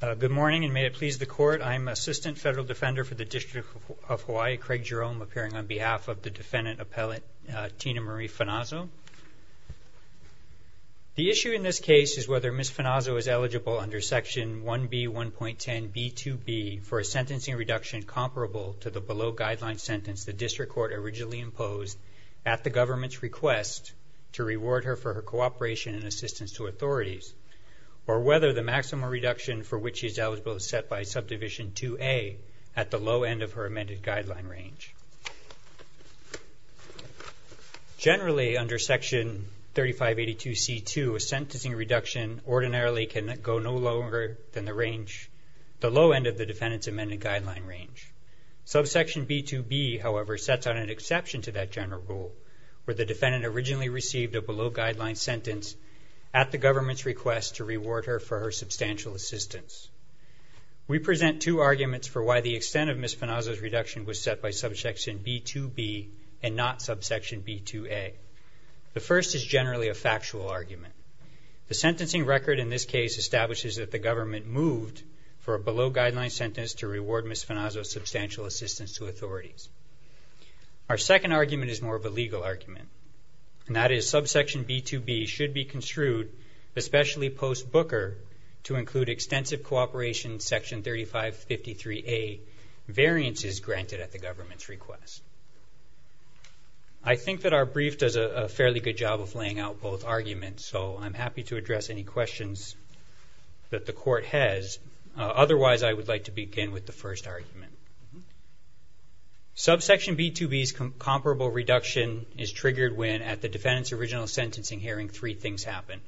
Good morning, and may it please the Court, I am Assistant Federal Defender for the District of Hawaii, Craig Jerome, appearing on behalf of the defendant appellate, Tina-Marie Finazzo. The issue in this case is whether Ms. Finazzo is eligible under Section 1B.1.10.B.2.B. for a sentencing reduction comparable to the below guideline sentence the District Court originally imposed at the government's request to reward her for her cooperation and assistance to perform a reduction for which she is eligible to set by Subdivision 2A at the low end of her amended guideline range. Generally under Section 3582.C.2, a sentencing reduction ordinarily can go no lower than the range, the low end of the defendant's amended guideline range. Subsection B.2.B., however, sets out an exception to that general rule, where the defendant originally received a below guideline sentence at the government's request to reward her for her substantial assistance. We present two arguments for why the extent of Ms. Finazzo's reduction was set by Subsection B.2.B. and not Subsection B.2.A. The first is generally a factual argument. The sentencing record in this case establishes that the government moved for a below guideline sentence to reward Ms. Finazzo's substantial assistance to authorities. Our second argument is more of a legal argument, and that is Subsection B.2.B. should be construed, especially post-Booker, to include extensive cooperation in Section 3553A, variances granted at the government's request. I think that our brief does a fairly good job of laying out both arguments, so I'm happy to address any questions that the Court has. Otherwise, I would like to begin with the first argument. Subsection B.2.B.'s comparable reduction is triggered when, at the defendant's original sentencing hearing, three things happened.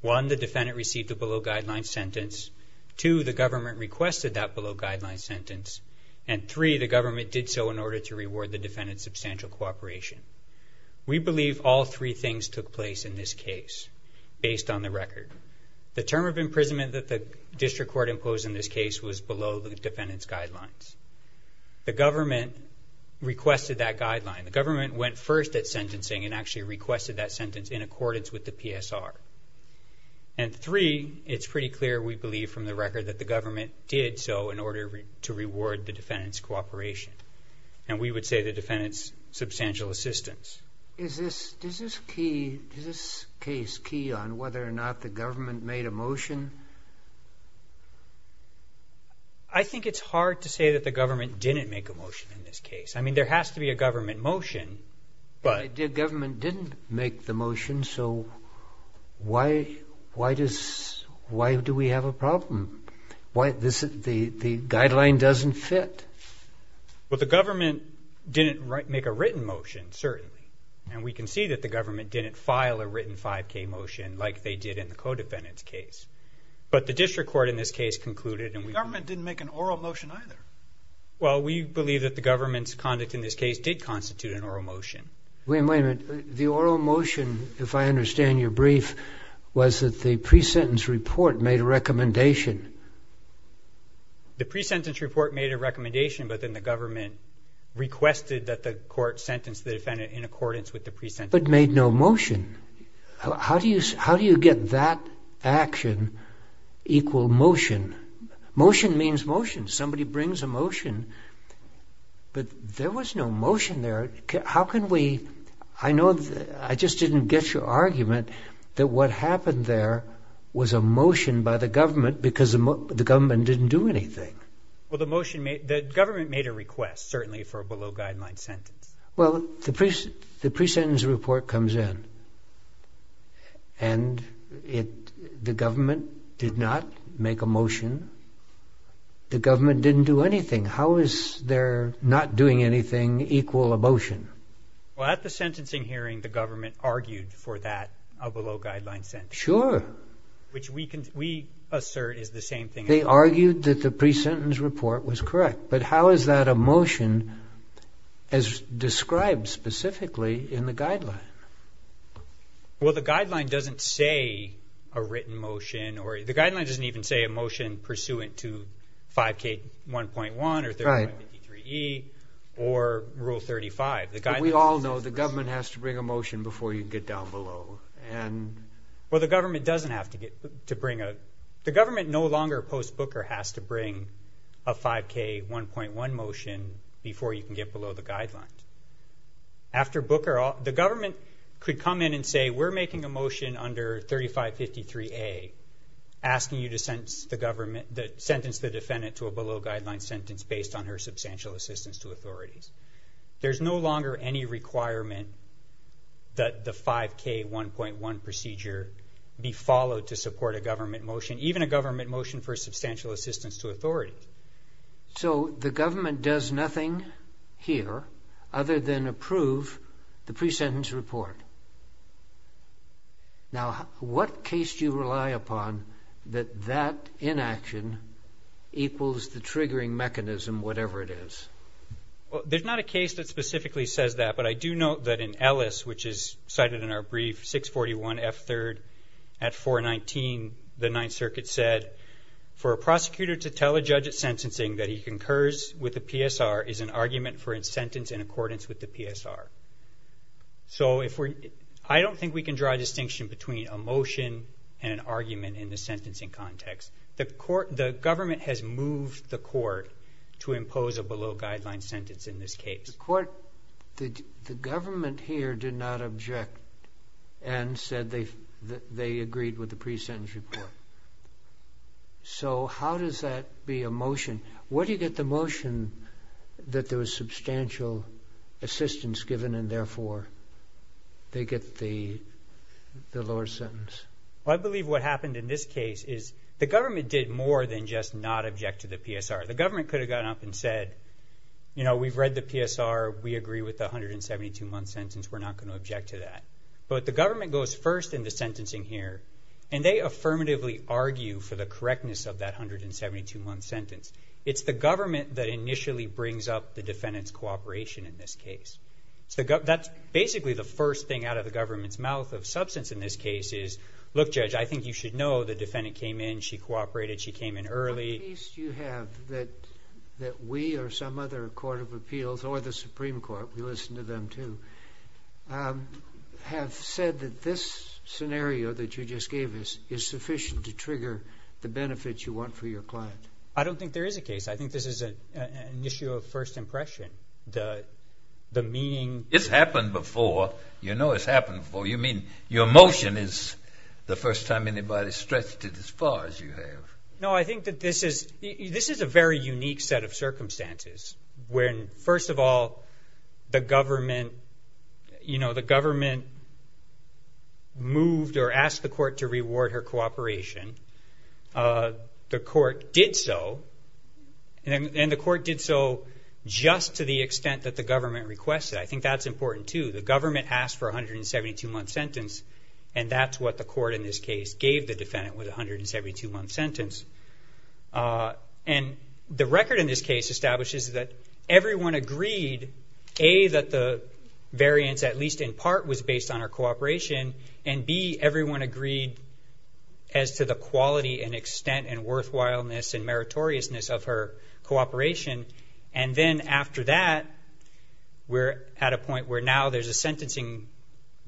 One, the defendant received a below guideline sentence. Two, the government requested that below guideline sentence. And three, the government did so in order to reward the defendant's substantial cooperation. We believe all three things took place in this case, based on the record. The term of imprisonment that the District Court imposed in this case was below the defendant's guidelines. The government requested that guideline. The government went first at sentencing and actually requested that sentence in accordance with the PSR. And three, it's pretty clear, we believe, from the record that the government did so in order to reward the defendant's cooperation. And we would say the defendant's substantial assistance. Is this case key on whether or not the government made a motion? I think it's hard to say that the government didn't make a motion in this case. I mean, there has to be a government motion, but... But the government didn't make the motion, so why do we have a problem? The guideline doesn't fit. Well, the government didn't make a written motion, certainly. And we can see that the government didn't file a written 5K motion like they did in the co-defendant's case. But the District Court in this case concluded and we... The government didn't make an oral motion either. Well, we believe that the government's conduct in this case did constitute an oral motion. Wait a minute, the oral motion, if I understand your brief, was that the pre-sentence report made a recommendation. The pre-sentence report made a recommendation, but then the government requested that the court sentence the defendant in accordance with the pre-sentence. But made no motion. How do you get that action equal motion? Motion means motion. Somebody brings a motion, but there was no motion there. How can we... I know... I just didn't get your argument that what happened there was a motion by the government because the government didn't do anything. Well, the motion made... The government made a request, certainly, for a below-guideline sentence. Well, the pre-sentence report comes in, and the government did not make a motion. Then the government didn't do anything. How is there not doing anything equal a motion? Well, at the sentencing hearing, the government argued for that, a below-guideline sentence. Sure. Which we assert is the same thing. They argued that the pre-sentence report was correct. But how is that a motion as described specifically in the guideline? Well, the guideline doesn't say a written motion or... The guideline doesn't even say a motion pursuant to 5K1.1 or 3553E or Rule 35. We all know the government has to bring a motion before you get down below. Well, the government doesn't have to bring a... The government no longer, post-Booker, has to bring a 5K1.1 motion before you can get below the guideline. After Booker... The government could come in and say, we're making a motion under 3553A, asking you to sentence the defendant to a below-guideline sentence based on her substantial assistance to authorities. There's no longer any requirement that the 5K1.1 procedure be followed to support a government motion, even a government motion for substantial assistance to authorities. So, the government does nothing here other than approve the pre-sentence report. Now, what case do you rely upon that that inaction equals the triggering mechanism, whatever it is? Well, there's not a case that specifically says that, but I do note that in Ellis, which is cited in our brief, 641F3rd at 419, the Ninth Circuit said, for a prosecutor to tell a judge at sentencing that he concurs with the PSR is an argument for a sentence in accordance with the PSR. So if we're... I don't think we can draw a distinction between a motion and an argument in the sentencing context. The court... The government has moved the court to impose a below-guideline sentence in this case. The court... The government here did not object and said they agreed with the pre-sentence report. So, how does that be a motion? Where do you get the motion that there was substantial assistance given and therefore they get the lower sentence? Well, I believe what happened in this case is the government did more than just not object to the PSR. The government could have gotten up and said, you know, we've read the PSR. We agree with the 172-month sentence. We're not going to object to that. But the government goes first in the sentencing here, and they affirmatively argue for the correctness of that 172-month sentence. It's the government that initially brings up the defendant's cooperation in this case. That's basically the first thing out of the government's mouth of substance in this case is, look, Judge, I think you should know the defendant came in. She cooperated. She came in early. What piece do you have that we or some other court of appeals, or the Supreme Court, we have said that this scenario that you just gave us is sufficient to trigger the benefits you want for your client? I don't think there is a case. I think this is an issue of first impression. The meaning... It's happened before. You know it's happened before. You mean your motion is the first time anybody's stretched it as far as you have. No, I think that this is a very unique set of circumstances when, first of all, the government, you know, the government moved or asked the court to reward her cooperation. The court did so, and the court did so just to the extent that the government requested. I think that's important, too. The government asked for a 172-month sentence, and that's what the court in this case gave the defendant with a 172-month sentence. And the record in this case establishes that everyone agreed, A, that the variance, at least in part, was based on her cooperation, and B, everyone agreed as to the quality and extent and worthwhileness and meritoriousness of her cooperation. And then after that, we're at a point where now there's a sentencing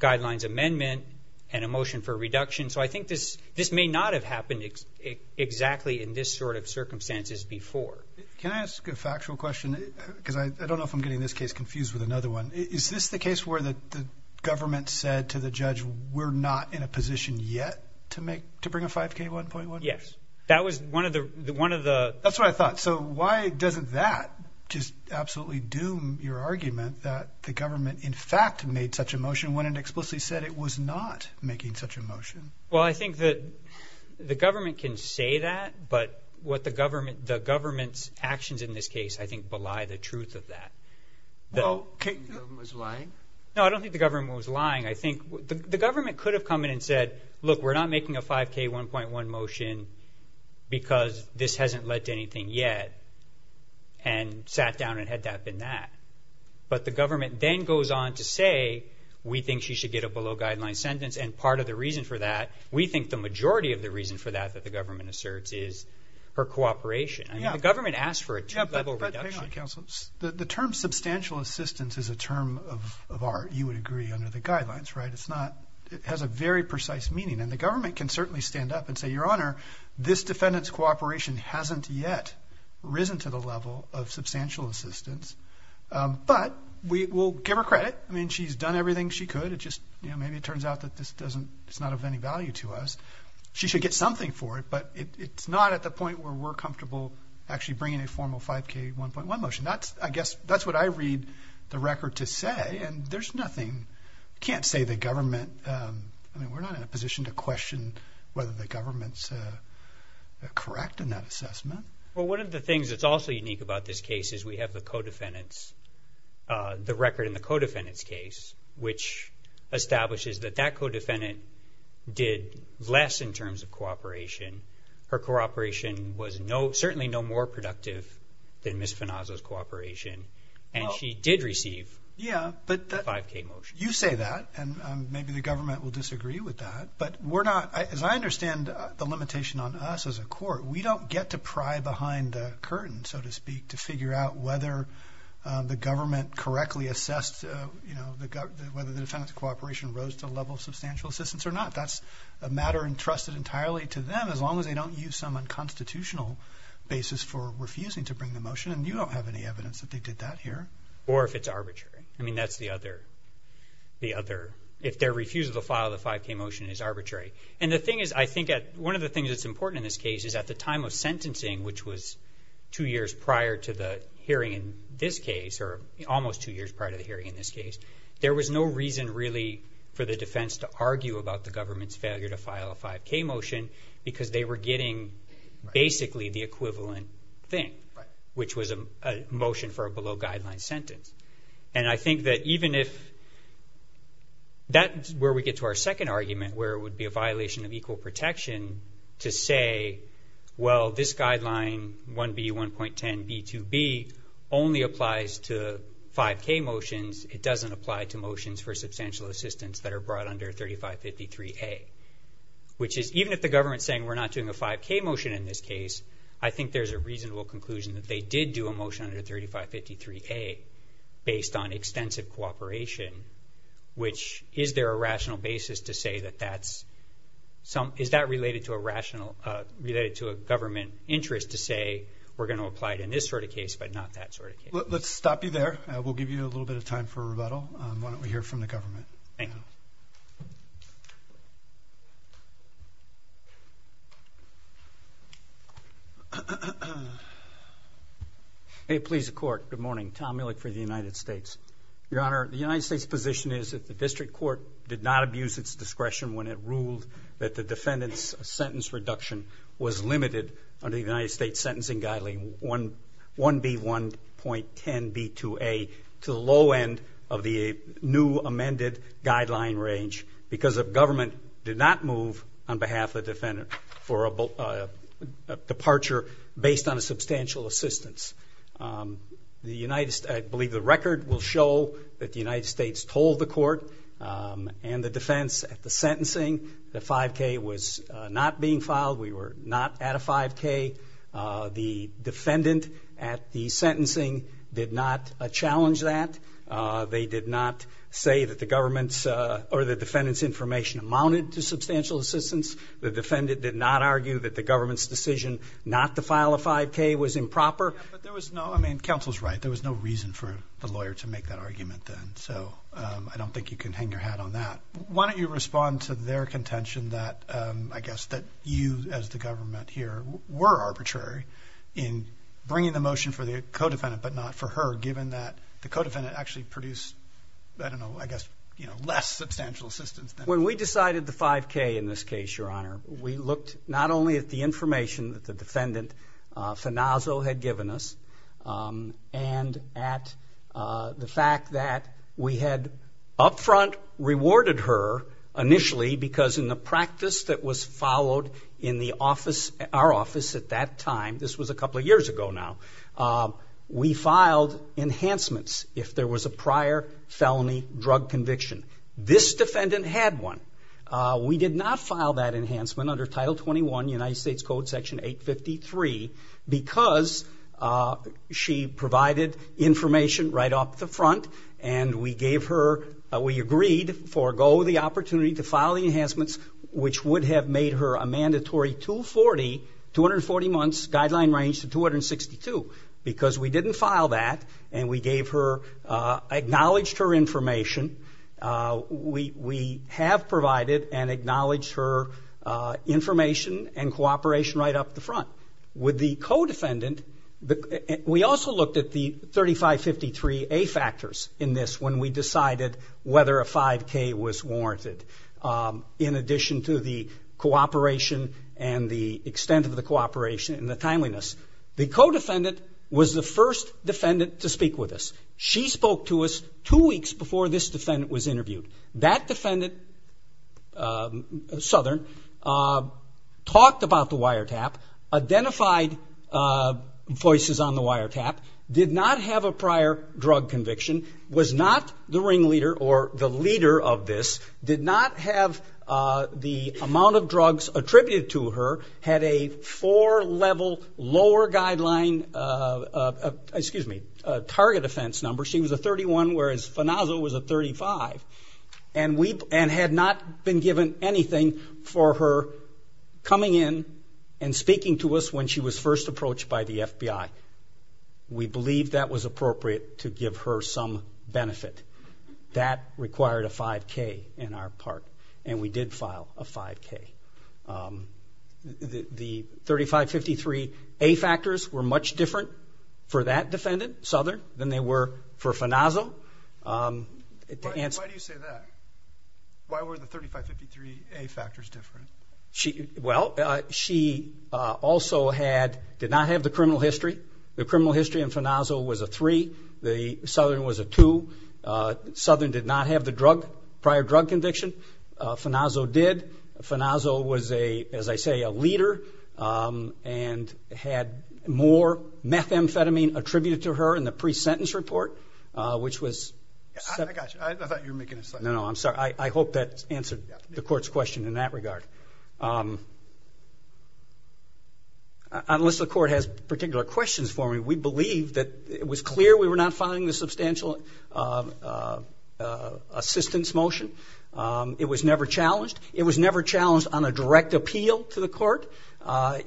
guidelines amendment and a motion for reduction. So I think this may not have happened exactly in this sort of circumstances before. Can I ask a factual question, because I don't know if I'm getting this case confused with another one. Is this the case where the government said to the judge, we're not in a position yet to bring a 5K 1.1? Yes. That was one of the... That's what I thought. So why doesn't that just absolutely doom your argument that the government, in fact, made such a motion when it explicitly said it was not making such a motion? Well, I think that the government can say that, but what the government... The government's actions in this case, I think, belie the truth of that. Well... Do you think the government was lying? No, I don't think the government was lying. I think... The government could have come in and said, look, we're not making a 5K 1.1 motion because this hasn't led to anything yet, and sat down and had that been that. But the government then goes on to say, we think she should get a below-guideline sentence, and part of the reason for that... We think the majority of the reason for that, that the government asserts, is her cooperation. Yeah. The government asked for a two-level reduction. Hang on, counsel. The term substantial assistance is a term of art, you would agree, under the guidelines, right? It's not... It has a very precise meaning, and the government can certainly stand up and say, your honor, this defendant's cooperation hasn't yet risen to the level of substantial assistance, but we will give her credit. I mean, she's done everything she could, it just, you know, maybe it turns out that this doesn't... It's not of any value to us. She should get something for it, but it's not at the point where we're comfortable actually bringing a formal 5K 1.1 motion. That's, I guess, that's what I read the record to say, and there's nothing... Can't say the government... I mean, we're not in a position to question whether the government's correct in that assessment. Well, one of the things that's also unique about this case is we have the co-defendants, the record in the co-defendant's case, which establishes that that co-defendant did less in terms of cooperation. Her cooperation was certainly no more productive than Ms. Finazzo's cooperation, and she did receive the 5K motion. You say that, and maybe the government will disagree with that, but we're not... As I understand the limitation on us as a court, we don't get to pry behind the curtain, so to speak, to figure out whether the government correctly assessed, you know, whether the defendant's cooperation rose to the level of substantial assistance or not. That's a matter entrusted entirely to them as long as they don't use some unconstitutional basis for refusing to bring the motion, and you don't have any evidence that they did that here. Or if it's arbitrary. I mean, that's the other... If their refusal to file the 5K motion is arbitrary. And the thing is, I think one of the things that's important in this case is at the time of sentencing, which was two years prior to the hearing in this case, or almost two years prior to the hearing in this case, there was no reason really for the defense to argue about the government's failure to file a 5K motion because they were getting basically the equivalent thing, which was a motion for a below-guideline sentence. And I think that even if... That's where we get to our second argument, where it would be a violation of equal protection to say, well, this guideline 1B.1.10.B.2.B. only applies to 5K motions. It doesn't apply to motions for substantial assistance that are brought under 3553A. Which is, even if the government's saying we're not doing a 5K motion in this case, I think there's a reasonable conclusion that they did do a motion under 3553A based on extensive cooperation, which... Is there a rational basis to say that that's... Is that related to a rational... Related to a government interest to say, we're going to apply it in this sort of case, but not that sort of case? Let's stop you there. We'll give you a little bit of time for rebuttal. Why don't we hear from the government? Thank you. Hey, please, the court. Good morning. Tom Millick for the United States. Your Honor, the United States' position is that the district court did not abuse its discretion when it ruled that the defendant's sentence reduction was limited under the United because the government did not move on behalf of the defendant for a departure based on a substantial assistance. The United... I believe the record will show that the United States told the court and the defense at the sentencing that 5K was not being filed. We were not at a 5K. The defendant at the sentencing did not challenge that. They did not say that the government's or the defendant's information amounted to substantial assistance. The defendant did not argue that the government's decision not to file a 5K was improper. Yeah, but there was no... I mean, counsel's right. There was no reason for the lawyer to make that argument then, so I don't think you can hang your hat on that. Why don't you respond to their contention that, I guess, that you as the government here were arbitrary in bringing the motion for the co-defendant, but not for her, given that the co-defendant actually produced, I don't know, I guess, you know, less substantial assistance than... When we decided the 5K in this case, Your Honor, we looked not only at the information that the defendant, Fenaso, had given us and at the fact that we had up front rewarded her initially because in the practice that was followed in the office, our office at that time, this was a couple of years ago now, we filed enhancements if there was a prior felony drug conviction. This defendant had one. We did not file that enhancement under Title 21, United States Code, Section 853 because she provided information right off the front and we gave her, we agreed, forego the opportunity to file the enhancements, which would have made her a mandatory 240, 240 months guideline range to 262 because we didn't file that and we gave her, acknowledged her information. We have provided and acknowledged her information and cooperation right off the front. With the co-defendant, we also looked at the 3553A factors in this when we decided whether a 5K was warranted in addition to the cooperation and the extent of the cooperation and the timeliness. The co-defendant was the first defendant to speak with us. She spoke to us two weeks before this defendant was interviewed. That defendant, Southern, talked about the wiretap, identified voices on the wiretap, did not have a prior drug conviction, was not the ringleader or the leader of this, did not have the amount of drugs attributed to her, had a four-level lower guideline, excuse me, target offense number. She was a 31 whereas Fonaso was a 35 and had not been given anything for her coming in and speaking to us when she was first approached by the FBI. We believe that was appropriate to give her some benefit. That required a 5K in our part and we did file a 5K. The 3553A factors were much different for that defendant, Southern, than they were for Fonaso. Why do you say that? Why were the 3553A factors different? Well, she also did not have the criminal history. The criminal history in Fonaso was a 3, Southern was a 2, Southern did not have the prior drug conviction, Fonaso did, Fonaso was a, as I say, a leader and had more methamphetamine attributed to her in the pre-sentence report, which was... I got you. I thought you were making a... No, no, I'm sorry. I hope that answered the court's question in that regard. Unless the court has particular questions for me, we believe that it was clear we were not filing the substantial assistance motion. It was never challenged. It was never challenged on a direct appeal to the court.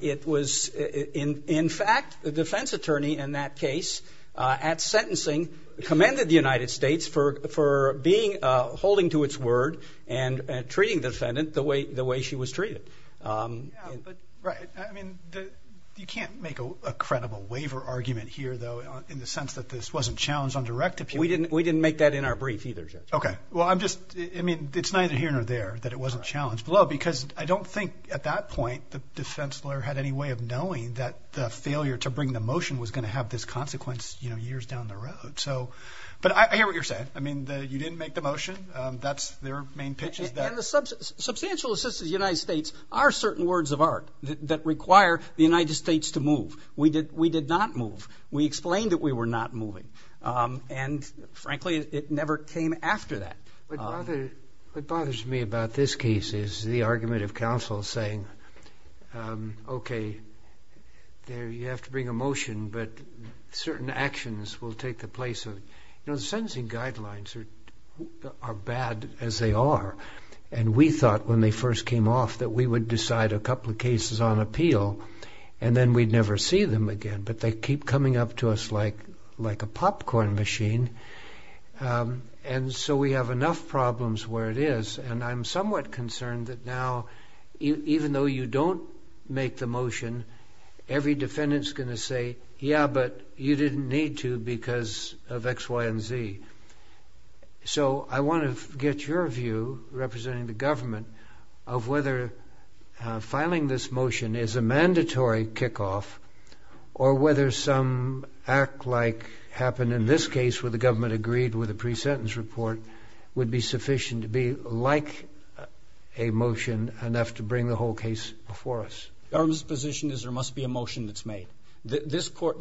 It was, in fact, the defense attorney in that case, at sentencing, commended the United States' word and treating the defendant the way she was treated. Right. I mean, you can't make a credible waiver argument here, though, in the sense that this wasn't challenged on direct appeal. We didn't make that in our brief either, Judge. Okay. Well, I'm just... I mean, it's neither here nor there that it wasn't challenged, because I don't think at that point the defense lawyer had any way of knowing that the failure to bring the motion was going to have this consequence years down the road. But I hear what you're saying. I mean, you didn't make the motion. That's... Their main pitch is that... And the substantial assistance of the United States are certain words of art that require the United States to move. We did not move. We explained that we were not moving. And frankly, it never came after that. What bothers me about this case is the argument of counsel saying, okay, you have to bring a motion, but certain actions will take the place of... You know, the sentencing guidelines are bad as they are. And we thought when they first came off that we would decide a couple of cases on appeal and then we'd never see them again, but they keep coming up to us like a popcorn machine. And so we have enough problems where it is, and I'm somewhat concerned that now, even though you don't make the motion, every defendant's going to say, yeah, but you didn't need to because of X, Y, and Z. So I want to get your view, representing the government, of whether filing this motion is a mandatory kickoff or whether some act like happened in this case where the government agreed with a pre-sentence report would be sufficient to be like a motion enough to bring the whole case before us. Government's position is there must be a motion that's made. The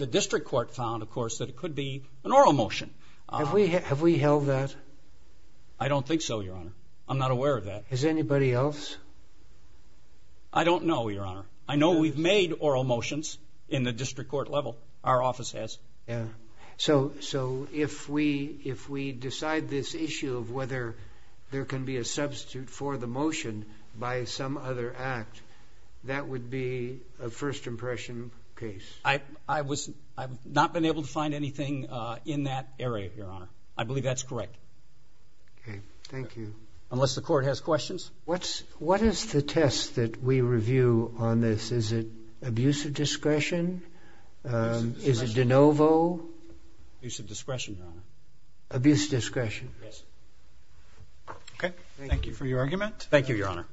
district court found, of course, that it could be an oral motion. Have we held that? I don't think so, Your Honor. I'm not aware of that. Has anybody else? I don't know, Your Honor. I know we've made oral motions in the district court level. Our office has. So if we decide this issue of whether there can be a substitute for the motion by some other act, that would be a first impression case? I've not been able to find anything in that area, Your Honor. I believe that's correct. Okay. Thank you. Unless the court has questions? What is the test that we review on this? Is it abuse of discretion? Is it de novo? Abuse of discretion, Your Honor. Abuse of discretion? Yes. Okay. Thank you for your argument. Thank you, Your Honor.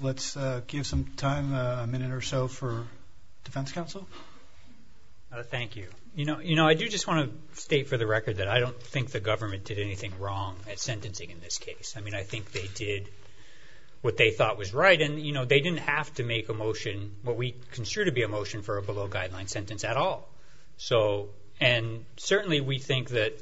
Let's give some time, a minute or so, for Defense Counsel. Thank you. You know, I do just want to state for the record that I don't think the government did anything wrong at sentencing in this case. I mean, I think they did what they thought was right, and, you know, they didn't have to make a motion, what we consider to be a motion for a below-guideline sentence at all. And certainly, we think that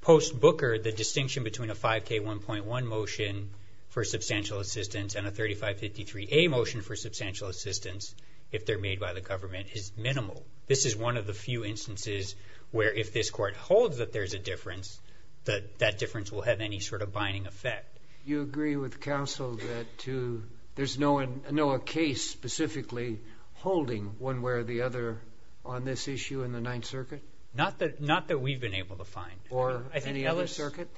post-Booker, the distinction between a 5K1.1 motion for substantial assistance and a 3553A motion for substantial assistance, if they're made by the government, is minimal. This is one of the few instances where, if this court holds that there's a difference, that difference will have any sort of binding effect. You agree with counsel that there's no case specifically holding one way or the other on this issue in the Ninth Circuit? Not that we've been able to find. Or any other circuit?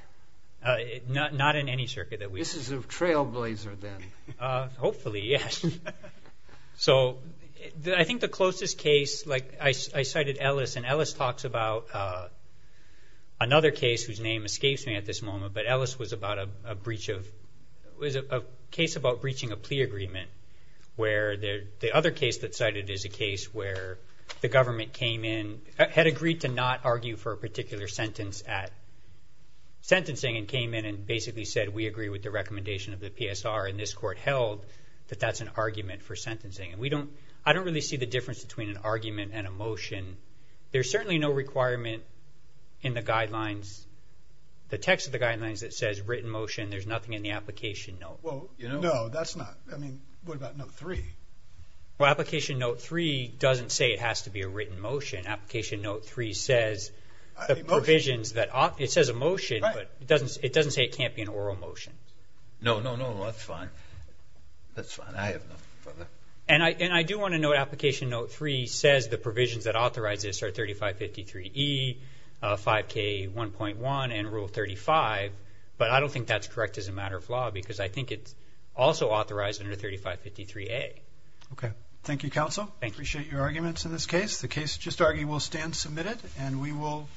Not in any circuit that we have. This is a trailblazer, then. Hopefully, yes. So I think the closest case, like I cited Ellis, and Ellis talks about another case whose name escapes me at this moment, but Ellis was about a breach of, was a case about breaching a plea agreement, where the other case that's cited is a case where the government came in, had agreed to not argue for a particular sentence at sentencing, and came in and basically said we agree with the recommendation of the PSR, and this court held that that's an argument for sentencing. And we don't, I don't really see the difference between an argument and a motion. There's certainly no requirement in the guidelines, the text of the guidelines, that says written motion. There's nothing in the application note. Well, you know. No, that's not. I mean, what about note three? Well, application note three doesn't say it has to be a written motion. Application note three says the provisions that, it says a motion, but it doesn't say it can't be an oral motion. No, no, no. That's fine. That's fine. I have no further. And I, and I do want to note application note three says the provisions that authorize this are 3553E, 5K1.1, and rule 35, but I don't think that's correct as a matter of law, because I think it's also authorized under 3553A. Okay. Thank you, counsel. Thank you. Appreciate your arguments in this case. The case just argued will stand submitted, and we will.